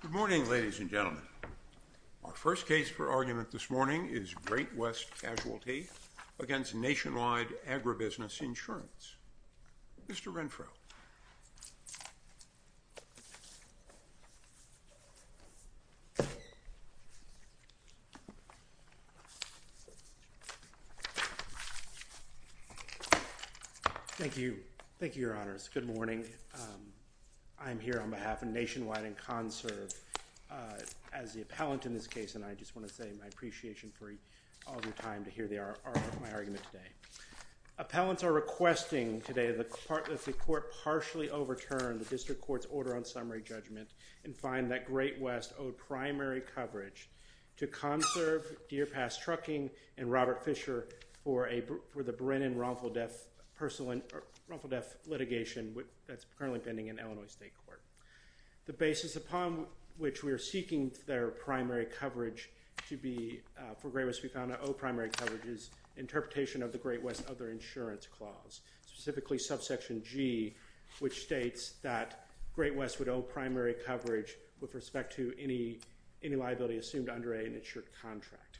Good morning, ladies and gentlemen. Our first case for argument this morning is Great West Casualty v. Nationwide Agribusiness Insurance. Mr. Renfro. Thank you. Thank you, Your Honors. Good morning. I'm here on behalf of Nationwide and CONSERVE as the appellant in this case, and I just want to say my appreciation for all your time to hear my argument today. Appellants are requesting today that the court partially overturn the district court's order on summary judgment and find that Great West owed primary coverage to CONSERVE, Deer Pass Trucking, and Robert Fisher for the Brennan-Rumfeldef litigation that's currently pending in Illinois State Court. The basis upon which we are seeking their primary coverage to be for Great West, we found that owed primary coverage is interpretation of the Great West Other Insurance Clause, specifically subsection G, which states that Great West would owe primary coverage with respect to any liability assumed under an insured contract.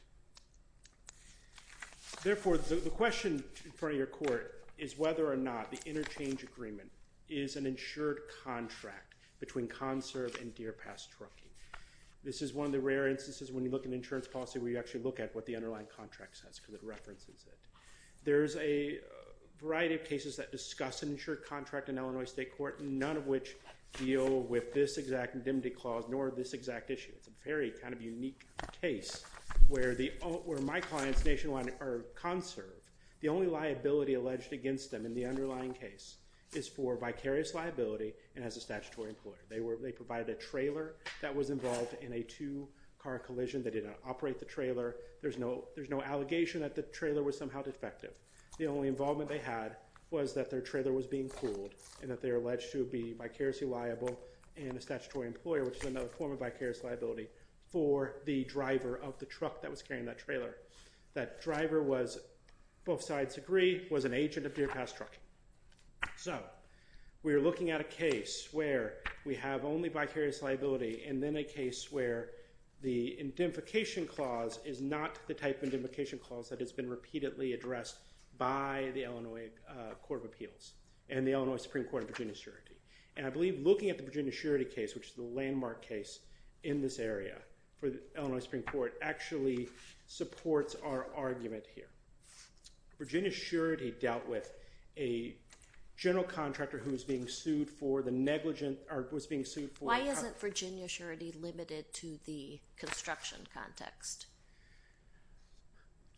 Therefore, the question in front of your court is whether or not the interchange agreement is an insured contract between CONSERVE and Deer Pass Trucking. This is one of the rare instances when you look at insurance policy where you actually look at what the underlying contract says because it references it. There's a variety of cases that discuss an insured contract in Illinois State Court, none of which deal with this exact indemnity clause nor this exact issue. It's a very kind of unique case where my clients nationwide are CONSERVE. The only liability alleged against them in the underlying case is for vicarious liability and as a statutory employer. They provided a trailer that was involved in a two-car collision. They didn't operate the trailer. There's no allegation that the trailer was somehow defective. The only involvement they had was that their trailer was being pooled and that they were alleged to be vicariously liable and a statutory employer, which is another form of vicarious liability, for the driver of the truck that was carrying that trailer. That driver was, both sides agree, was an agent of Deer Pass Trucking. So we're looking at a case where we have only vicarious liability and then a case where the indemnification clause is not the type of indemnification clause that has been repeatedly addressed by the Illinois Court of Appeals and the Illinois Supreme Court of Virginia Surity. And I believe looking at the Virginia Surity case, which is the landmark case in this area for the Illinois Supreme Court, actually supports our argument here. Virginia Surity dealt with a general contractor who was being sued for the negligent or was being sued for- Why isn't Virginia Surity limited to the construction context?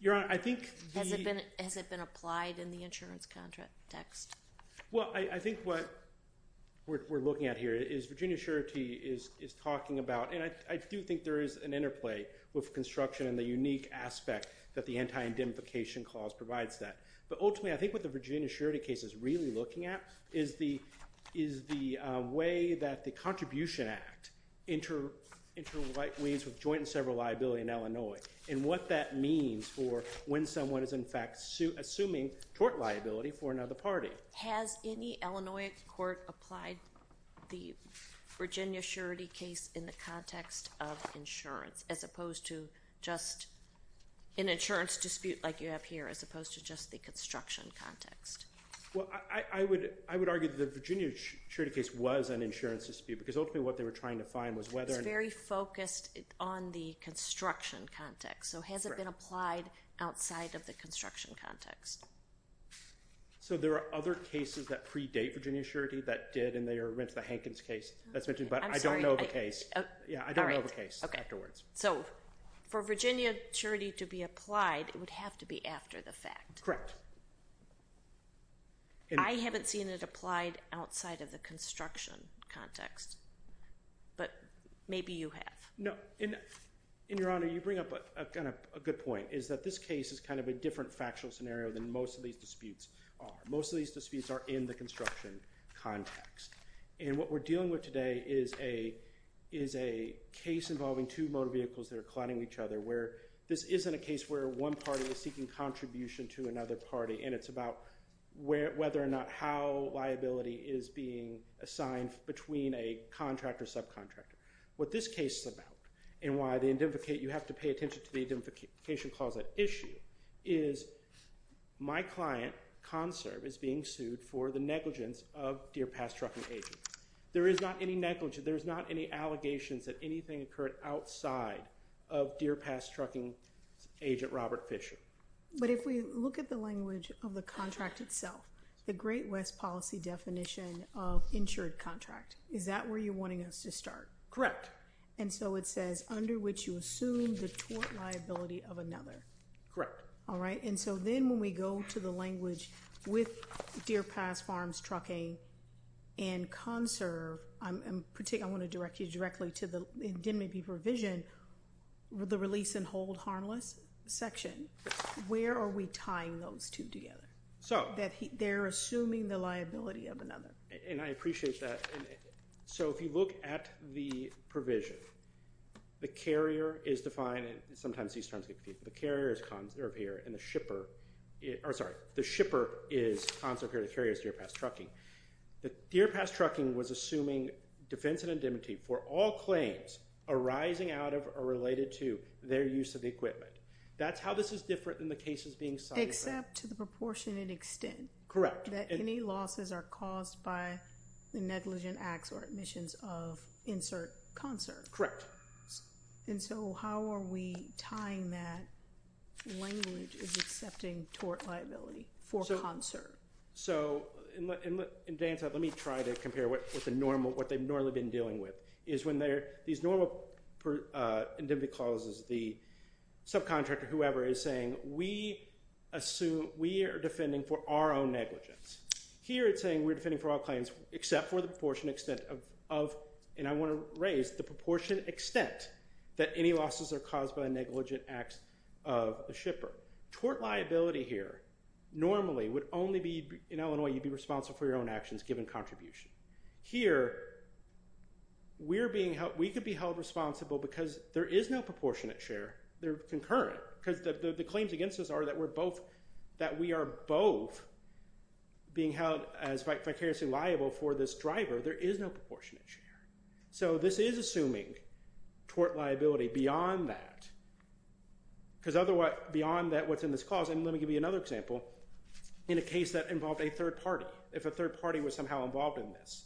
Your Honor, I think- Has it been applied in the insurance context? Well, I think what we're looking at here is Virginia Surity is talking about- and I do think there is an interplay with construction and the unique aspect that the anti-indemnification clause provides that. But ultimately, I think what the Virginia Surity case is really looking at is the way that the Contribution Act interweaves with joint and several liability in Illinois and what that means for when someone is in fact assuming tort liability for another party. Has any Illinois court applied the Virginia Surity case in the context of insurance as opposed to just an insurance dispute like you have here as opposed to just the construction context? Well, I would argue that the Virginia Surity case was an insurance dispute because ultimately what they were trying to find was whether- it was very focused on the construction context. So, has it been applied outside of the construction context? So, there are other cases that predate Virginia Surity that did and they are in the Hankins case that's mentioned, but I don't know the case. Yeah, I don't know the case afterwards. So, for Virginia Surity to be applied, it would have to be after the fact. Correct. I haven't seen it applied outside of the construction context, but maybe you have. No, and Your Honor, you bring up a good point, is that this case is kind of a different factual scenario than most of these disputes are. Most of these disputes are in the construction context and what we're dealing with today is a case involving two motor vehicles that are colliding with each other where this isn't a case where one party is seeking contribution to another party and it's about whether or not how liability is being assigned between a contractor and subcontractor. What this case is about and why you have to pay attention to the identification clause at issue is my client, Conserve, is being sued for the negligence of Deer Pass Trucking agents. There is not any negligence. There is not any allegations that anything occurred outside of Deer Pass Trucking agent Robert Fisher. But if we look at the language of the contract itself, the Great West policy definition of insured contract, is that where you're wanting us to start? Correct. And so it says under which you assume the tort liability of another. Correct. All right. And so then when we go to the language with Deer Pass Farms Trucking and Conserve, I want to direct you directly to the DMAB provision, the Release and Hold Harmless section. Where are we tying those two together? They're assuming the liability of another. And I appreciate that. So if you look at the provision, the carrier is defined, and sometimes these terms get confused, the carrier is Conserve here and the shipper, or sorry, the shipper is Conserve here and the carrier is Deer Pass Trucking. Deer Pass Trucking was assuming defense indemnity for all claims arising out of or related to their use of the equipment. That's how this is different than the cases being cited. Except to the proportionate extent. That any losses are caused by the negligent acts or admissions of, insert, Conserve. Correct. And so how are we tying that language as accepting tort liability for Conserve? So in advance, let me try to compare what the normal, what they've normally been dealing with is when these normal indemnity clauses, the subcontractor, whoever, is saying we assume, we are defending for our own negligence. Here it's saying we're defending for all claims except for the proportionate extent of, and I want to raise the proportionate extent that any losses are caused by negligent acts of the shipper. Tort liability here normally would only be, in Illinois, you'd be responsible for your own actions given contribution. Here we're being held, we could be held responsible because there is no proportionate share. They're concurrent because the claims against us are that we're both, that we are both being held as vicariously liable for this driver. There is no proportionate share. So this is assuming tort liability beyond that. Because beyond what's in this clause, and let me give you another example, in a case that involved a third party, if a third party was somehow involved in this,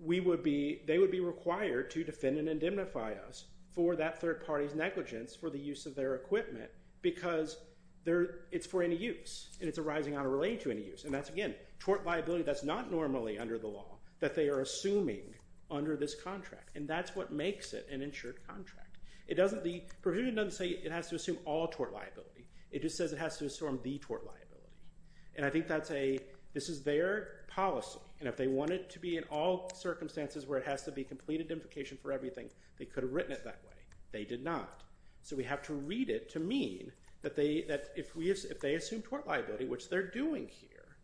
we would be, they would be required to defend and indemnify us for that third party's negligence for the use of their equipment because it's for any use and it's arising out of relating to any use. And that's, again, tort liability that's not normally under the law, that they are assuming under this contract. And that's what makes it an insured contract. It doesn't, the provision doesn't say it has to assume all tort liability. It just says it has to assume the tort liability. And I think that's a, this is their policy. And if they want it to be in all circumstances where it has to be complete indemnification for everything, they could have written it that way. They did not. So we have to read it to mean that if they assume tort liability, which they're doing here,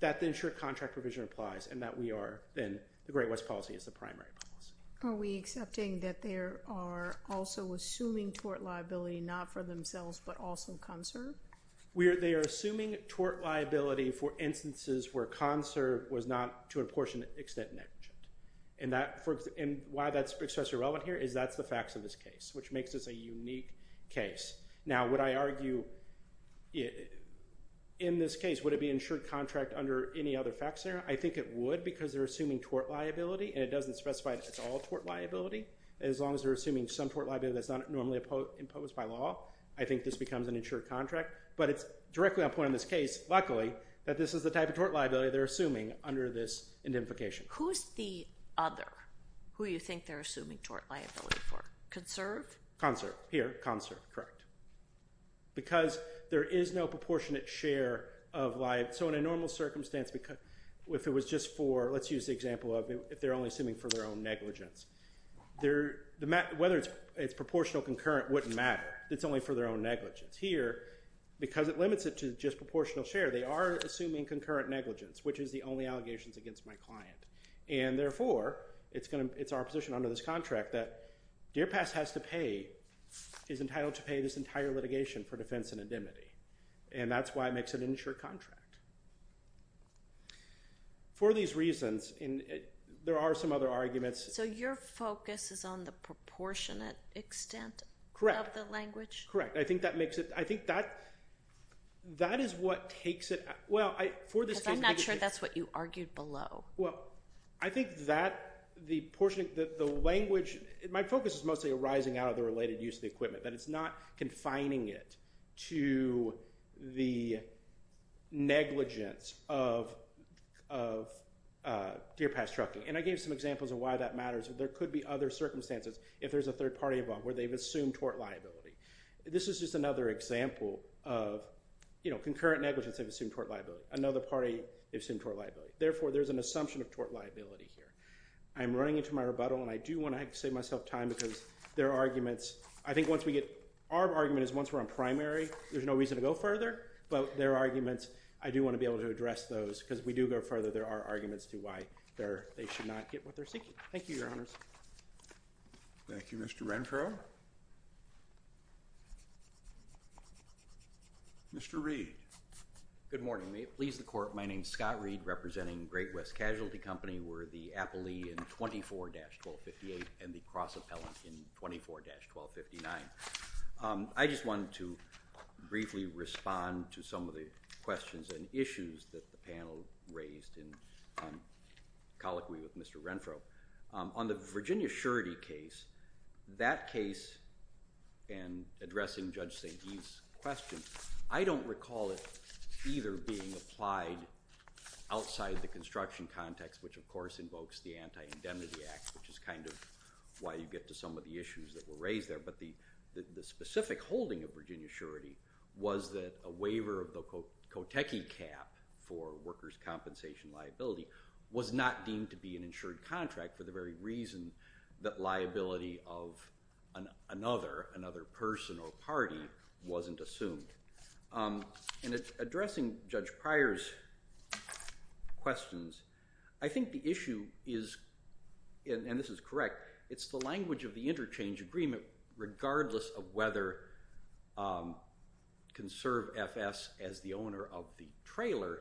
that the insured contract provision applies and that we are then, the Great West policy is the primary policy. Are we accepting that there are also assuming tort liability, not for themselves, but also conserved? We are, they are assuming tort liability for instances where conserved was not to an extent negligent. And that, and why that's especially relevant here is that's the facts of this case, which makes this a unique case. Now, would I argue in this case, would it be an insured contract under any other facts there? I think it would, because they're assuming tort liability and it doesn't specify it's all tort liability. As long as they're assuming some tort liability that's not normally imposed by law, I think this becomes an insured contract. But it's directly on point in this case, luckily, that this is the type of tort liability they're assuming under this indemnification. Who's the other who you think they're assuming tort liability for? Conserved? Conserved, here, conserved, correct. Because there is no proportionate share of liability. So in a normal circumstance, if it was just for, let's use the example of if they're only assuming for their own negligence, whether it's proportional, concurrent, wouldn't matter. It's only for their own negligence. Here, because it limits it to just proportional share, they are assuming concurrent negligence, which is the only allegations against my client. And therefore, it's our position under this contract that Deer Pass has to pay, is entitled to pay this entire litigation for defense and indemnity. And that's why it makes an insured contract. For these reasons, there are some other arguments. So your focus is on the proportionate extent of the language? Correct. I think that is what takes it. Because I'm not sure that's what you argued below. Well, I think that the language, my focus is mostly arising out of the related use of the equipment, that it's not confining it to the negligence of Deer Pass trucking. And I gave some examples of why that matters. There could be other circumstances if there's a third party involved where they've assumed tort liability. This is just another example of concurrent negligence they've assumed tort liability. Another party assumed tort liability. Therefore, there's an assumption of tort liability here. I'm running into my rebuttal, and I do want to save myself time because there are arguments. Our argument is once we're on primary, there's no reason to go further. But there are arguments. I do want to be able to address those. Because if we do go further, there are arguments to why they should not get what they're seeking. Thank you, Your Honors. Thank you, Mr. Renfrow. Mr. Reed. Good morning. May it please the Court, my name's Scott Reed, representing Great West Casualty Company. We're the appellee in 24-1258 and the cross-appellant in 24-1259. I just wanted to briefly respond to some of the questions and issues that the panel raised in colloquy with Mr. Renfrow. On the Virginia surety case, that case, and addressing Judge St. Guy's question, I don't recall it either being applied outside the construction context, which, of course, invokes the Anti-Indemnity Act, which is kind of why you get to some of the issues that were raised there. But the specific holding of Virginia surety was that a waiver of the Kotechi cap for workers' compensation liability was not deemed to be an insured contract for the very reason that liability of another person or party wasn't assumed. And addressing Judge Pryor's questions, I think the issue is, and this is correct, it's the language of the interchange agreement, regardless of whether conserve FS as the owner of the trailer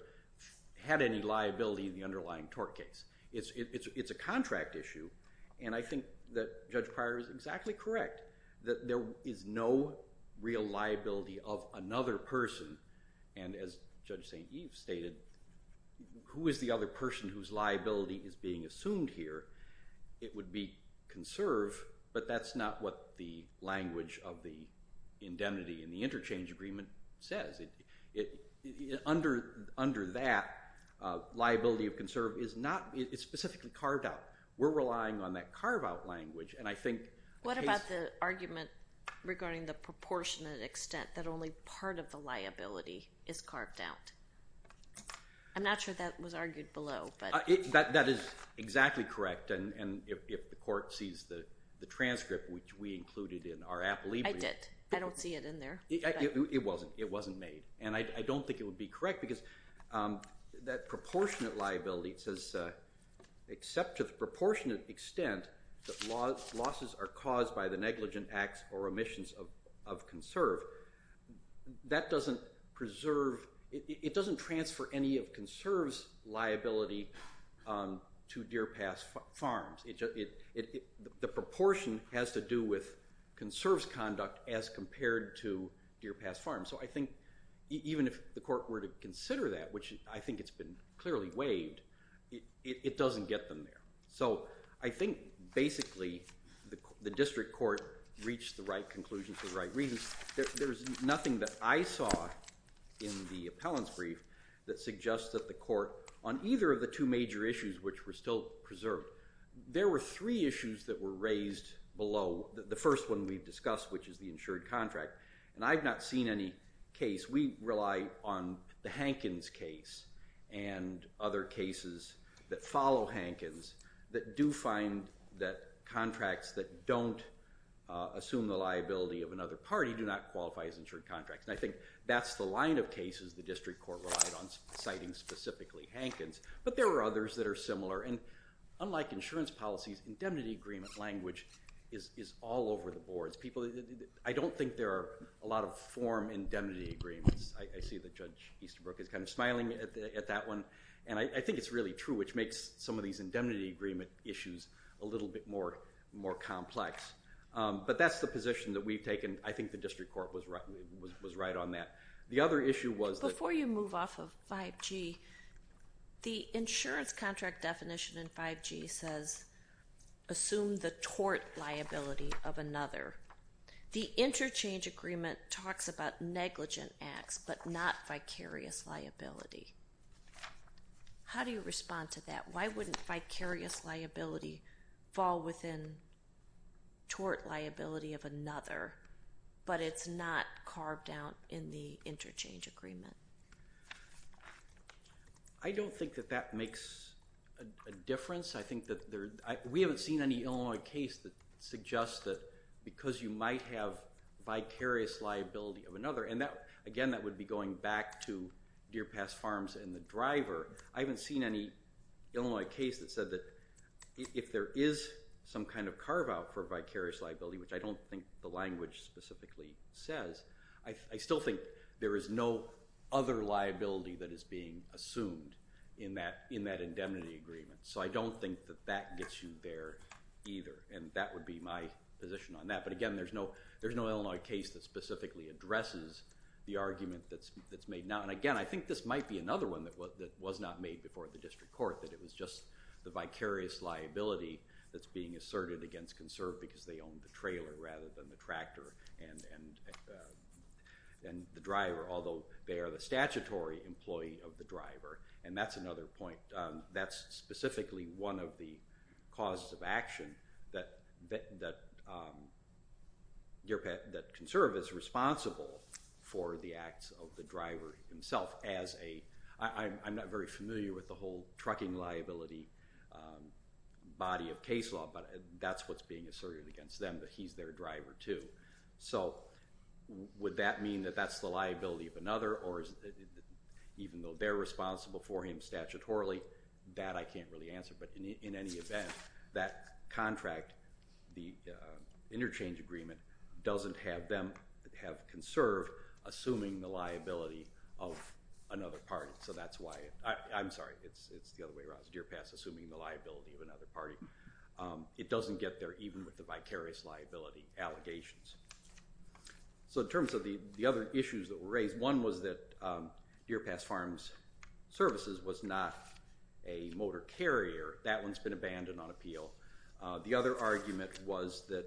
had any liability in the underlying tort case. It's a contract issue, and I think that Judge Pryor is exactly correct that there is no real liability of another person, and as Judge St. Eve stated, who is the other person whose liability is being assumed here? It would be conserve, but that's not what the language of the indemnity in the interchange agreement says. Under that, liability of conserve is not, it's specifically carved out. We're relying on that carve-out language, and I think... What about the argument regarding the proportionate extent that only part of the liability is carved out? I'm not sure that was argued below, but... That is exactly correct, and if the court sees the transcript which we included in our appellee... I did. I don't see it in there. It wasn't made, and I don't think it would be correct because that proportionate liability says, except to the proportionate extent that losses are caused by the negligent acts or omissions of conserve, that doesn't preserve... It doesn't transfer any of conserve's liability to Deer Pass Farms. The proportion has to do with conserve's conduct as compared to Deer Pass Farms, so I think even if the court were to consider that, which I think it's been clearly waived, it doesn't get them there. So I think basically the district court reached the right conclusion for the right reasons. There's nothing that I saw in the appellant's brief that suggests that the court, on either of the two major issues which were still preserved, there were three issues that were raised below. The first one we've discussed, which is the insured contract, and I've not seen any case. We rely on the Hankins case and other cases that follow Hankins that do find that contracts that don't assume the liability of another party do not qualify as insured contracts, and I think that's the line of cases the district court relied on citing specifically Hankins, but there are others that are similar, and unlike insurance policies, indemnity agreement language is all over the boards. I don't think there are a lot of form indemnity agreements. I see that Judge Easterbrook is kind of smiling at that one, and I think it's really true, which makes some of these indemnity agreement issues a little bit more complex. But that's the position that we've taken. I think the district court was right on that. The other issue was... Before you move off of 5G, the insurance contract definition in 5G says assume the tort liability of another. The interchange agreement talks about negligent acts but not vicarious liability. How do you respond to that? Why wouldn't vicarious liability fall within tort liability of another, but it's not carved out in the interchange agreement? I don't think that that makes a difference. I think that there... We haven't seen any Illinois case that suggests that because you might have vicarious liability of another... Again, that would be going back to Deer Pass Farms and the driver. I haven't seen any Illinois case that said that if there is some kind of carve-out for vicarious liability, which I don't think the language specifically says, I still think there is no other liability that is being assumed in that indemnity agreement. So I don't think that that gets you there either, and that would be my position on that. But again, there's no Illinois case that specifically addresses the argument that's made now. And again, I think this might be another one that was not made before the district court, that it was just the vicarious liability that's being asserted against Conserve because they own the trailer rather than the tractor and the driver, although they are the statutory employee of the driver. And that's another point. That's specifically one of the causes of action that Conserve is responsible for the acts of the driver himself as a... I'm not very familiar with the whole trucking liability body of case law, but that's what's being asserted against them, that he's their driver too. So would that mean that that's the liability of another even though they're responsible for him statutorily? That I can't really answer, but in any event, that contract, the interchange agreement, doesn't have Conserve assuming the liability of another party. So that's why... I'm sorry, it's the other way around. It's Deer Pass assuming the liability of another party. It doesn't get there even with the vicarious liability allegations. So in terms of the other issues that were raised, one was that Deer Pass Farms Services was not a motor carrier. That one's been abandoned on appeal. The other argument was that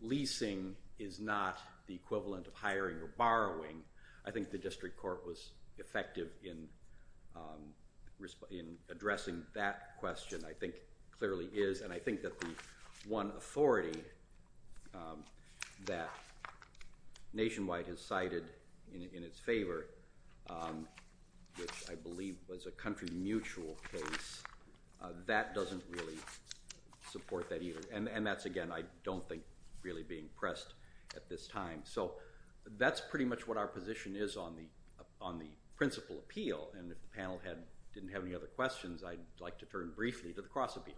leasing is not the equivalent of hiring or borrowing. I think the district court was effective in addressing that question, I think clearly is, and I think that the one authority that Nationwide has cited in its favor, which I believe was a country mutual case, that doesn't really support that either. And that's, again, I don't think really being pressed at this time. So that's pretty much what our position is on the principal appeal, and if the panel didn't have any other questions, I'd like to turn briefly to the cross appeal.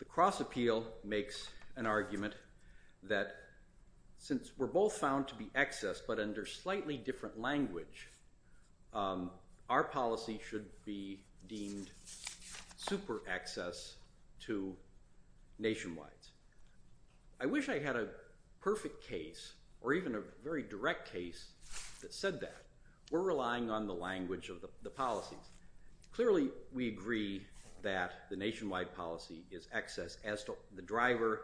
The cross appeal makes an argument that since we're both found to be excess, but under slightly different language, our policy should be deemed super excess to Nationwide's. I wish I had a perfect case or even a very direct case that said that. We're relying on the language of the policies. Clearly we agree that the Nationwide policy is excess as to the driver,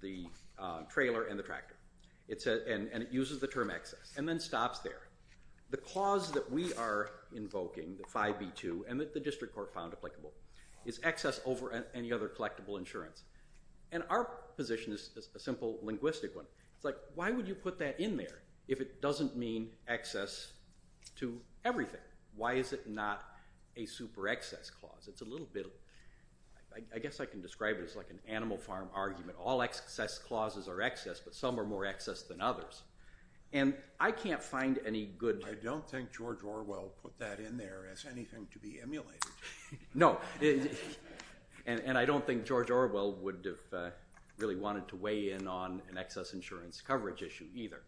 the trailer, and the tractor, and it uses the term excess, and then stops there. The clause that we are invoking, the 5B2, and that the district court found applicable, is excess over any other collectible insurance. And our position is a simple linguistic one. It's like, why would you put that in there if it doesn't mean excess to everything? Why is it not a super excess clause? It's a little bit, I guess I can describe it as like an animal farm argument. All excess clauses are excess, but some are more excess than others. And I can't find any good... I don't think George Orwell put that in there as anything to be emulated. No. And I don't think George Orwell would have really wanted to weigh in on an excess insurance coverage issue either.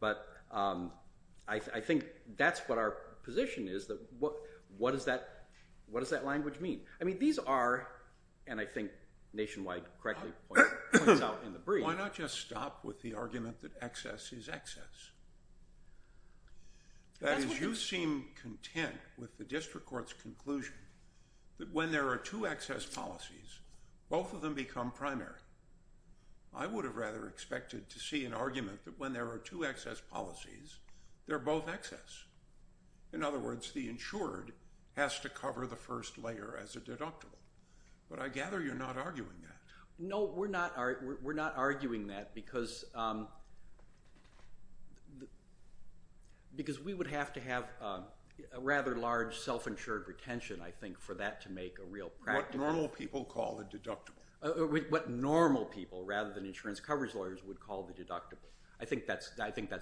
But I think that's what our position is. What does that language mean? I mean, these are, and I think Nationwide correctly points out in the brief... Why not just stop with the argument that excess is excess? That is, you seem content with the district court's conclusion that when there are two excess policies, both of them become primary. I would have rather expected to see an argument that when there are two excess policies, they're both excess. In other words, the insured has to cover the first layer as a deductible. But I gather you're not arguing that. No, we're not arguing that because we would have to have a rather large self-insured retention, I think, for that to make a real practical... What normal people call a deductible. What normal people, rather than insurance coverage lawyers, would call the deductible. I think that's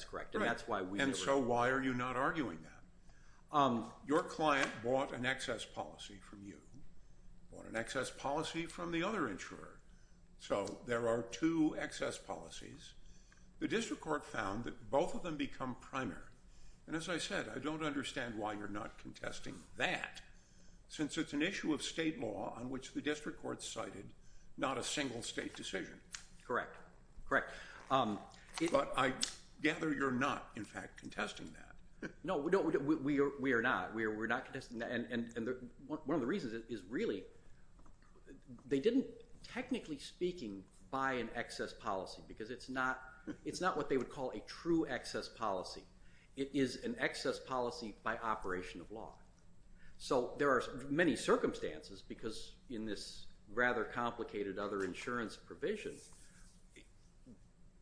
correct, and that's why we... And so why are you not arguing that? Your client bought an excess policy from you, bought an excess policy from the other insurer. So there are two excess policies. The district court found that both of them become primary. And as I said, I don't understand why you're not contesting that since it's an issue of state law on which the district court cited not a single state decision. Correct, correct. But I gather you're not, in fact, contesting that. No, we are not. We're not contesting that, and one of the reasons is really they didn't, technically speaking, buy an excess policy because it's not what they would call a true excess policy. It is an excess policy by operation of law. So there are many circumstances, because in this rather complicated other insurance provision,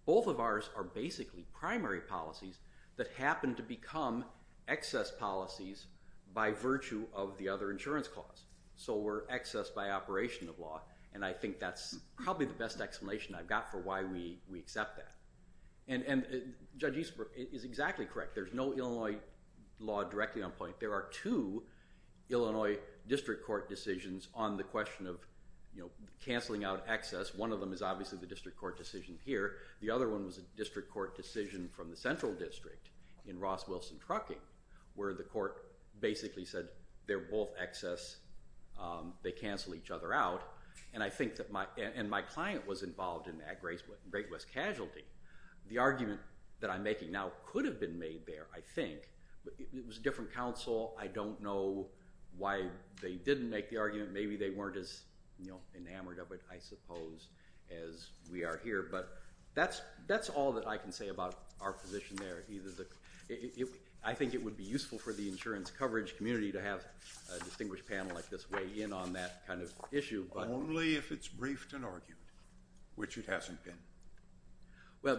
both of ours are basically primary policies that happen to become excess policies by virtue of the other insurance clause. So we're excess by operation of law, and I think that's probably the best explanation I've got for why we accept that. And Judge Eastbrook is exactly correct. There's no Illinois law directly on point. There are two Illinois district court decisions on the question of cancelling out excess. One of them is obviously the district court decision here. The other one was a district court decision from the Central District in Ross-Wilson Trucking where the court basically said they're both excess, they cancel each other out, and my client was involved in that, Great West Casualty. The argument that I'm making now could have been made there, I think. It was a different counsel. I don't know why they didn't make the argument. Maybe they weren't as enamored of it, I suppose, as we are here. But that's all that I can say about our position there. I think it would be useful for the insurance coverage community to have a distinguished panel like this weigh in on that kind of issue. Only if it's briefed and argued, which it hasn't been. Well,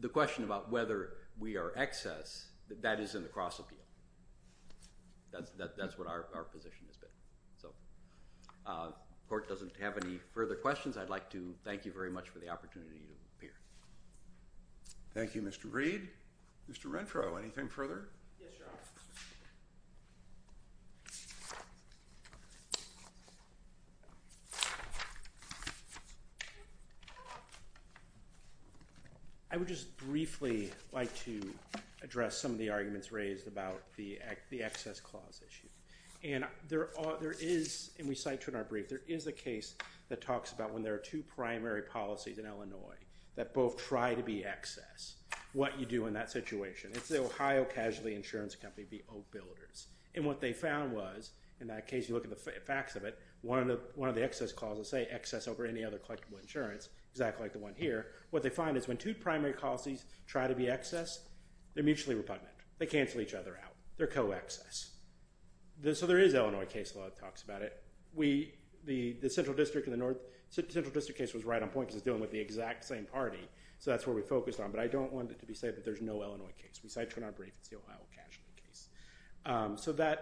the question about whether we are excess, that is in the cross-appeal. That's what our position has been. The court doesn't have any further questions. I'd like to thank you very much for the opportunity to appear. Thank you, Mr. Reed. Mr. Rentrow, anything further? Yes, Your Honor. I would just briefly like to address some of the arguments raised about the excess clause issue. And there is, and we cite it in our brief, there is a case that talks about when there are two primary policies in Illinois that both try to be excess, what you do in that situation. It's the Ohio Casualty Insurance Company v. Oak Builders. And what they found was, in that case, you look at the facts of it, one of the excess clauses say, exactly like the one here. What they find is when two primary policies try to be excess, they're mutually repugnant. They cancel each other out. They're co-excess. So there is Illinois case law that talks about it. The Central District case was right on point because it's dealing with the exact same party. So that's where we focused on. But I don't want it to be said that there's no Illinois case. We cite it in our brief. It's the Ohio Casualty case. So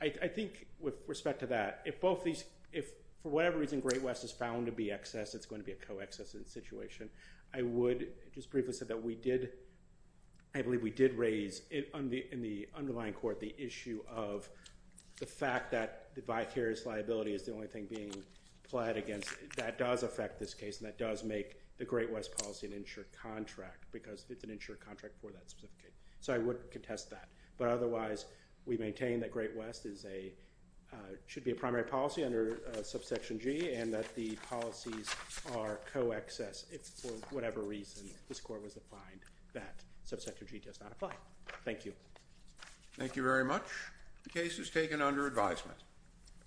I think with respect to that, if for whatever reason Great West is found to be excess, it's going to be a co-excess situation. I would just briefly say that we did, I believe we did raise in the underlying court, the issue of the fact that the vicarious liability is the only thing being plied against. That does affect this case. And that does make the Great West policy an insured contract because it's an insured contract for that specific case. So I would contest that. But otherwise, we maintain that Great West is a, should be a primary policy under Subsection G and that the policies are co-excess. If for whatever reason this court was defined that Subsection G does not apply. Thank you. Thank you very much. The case is taken under advisement.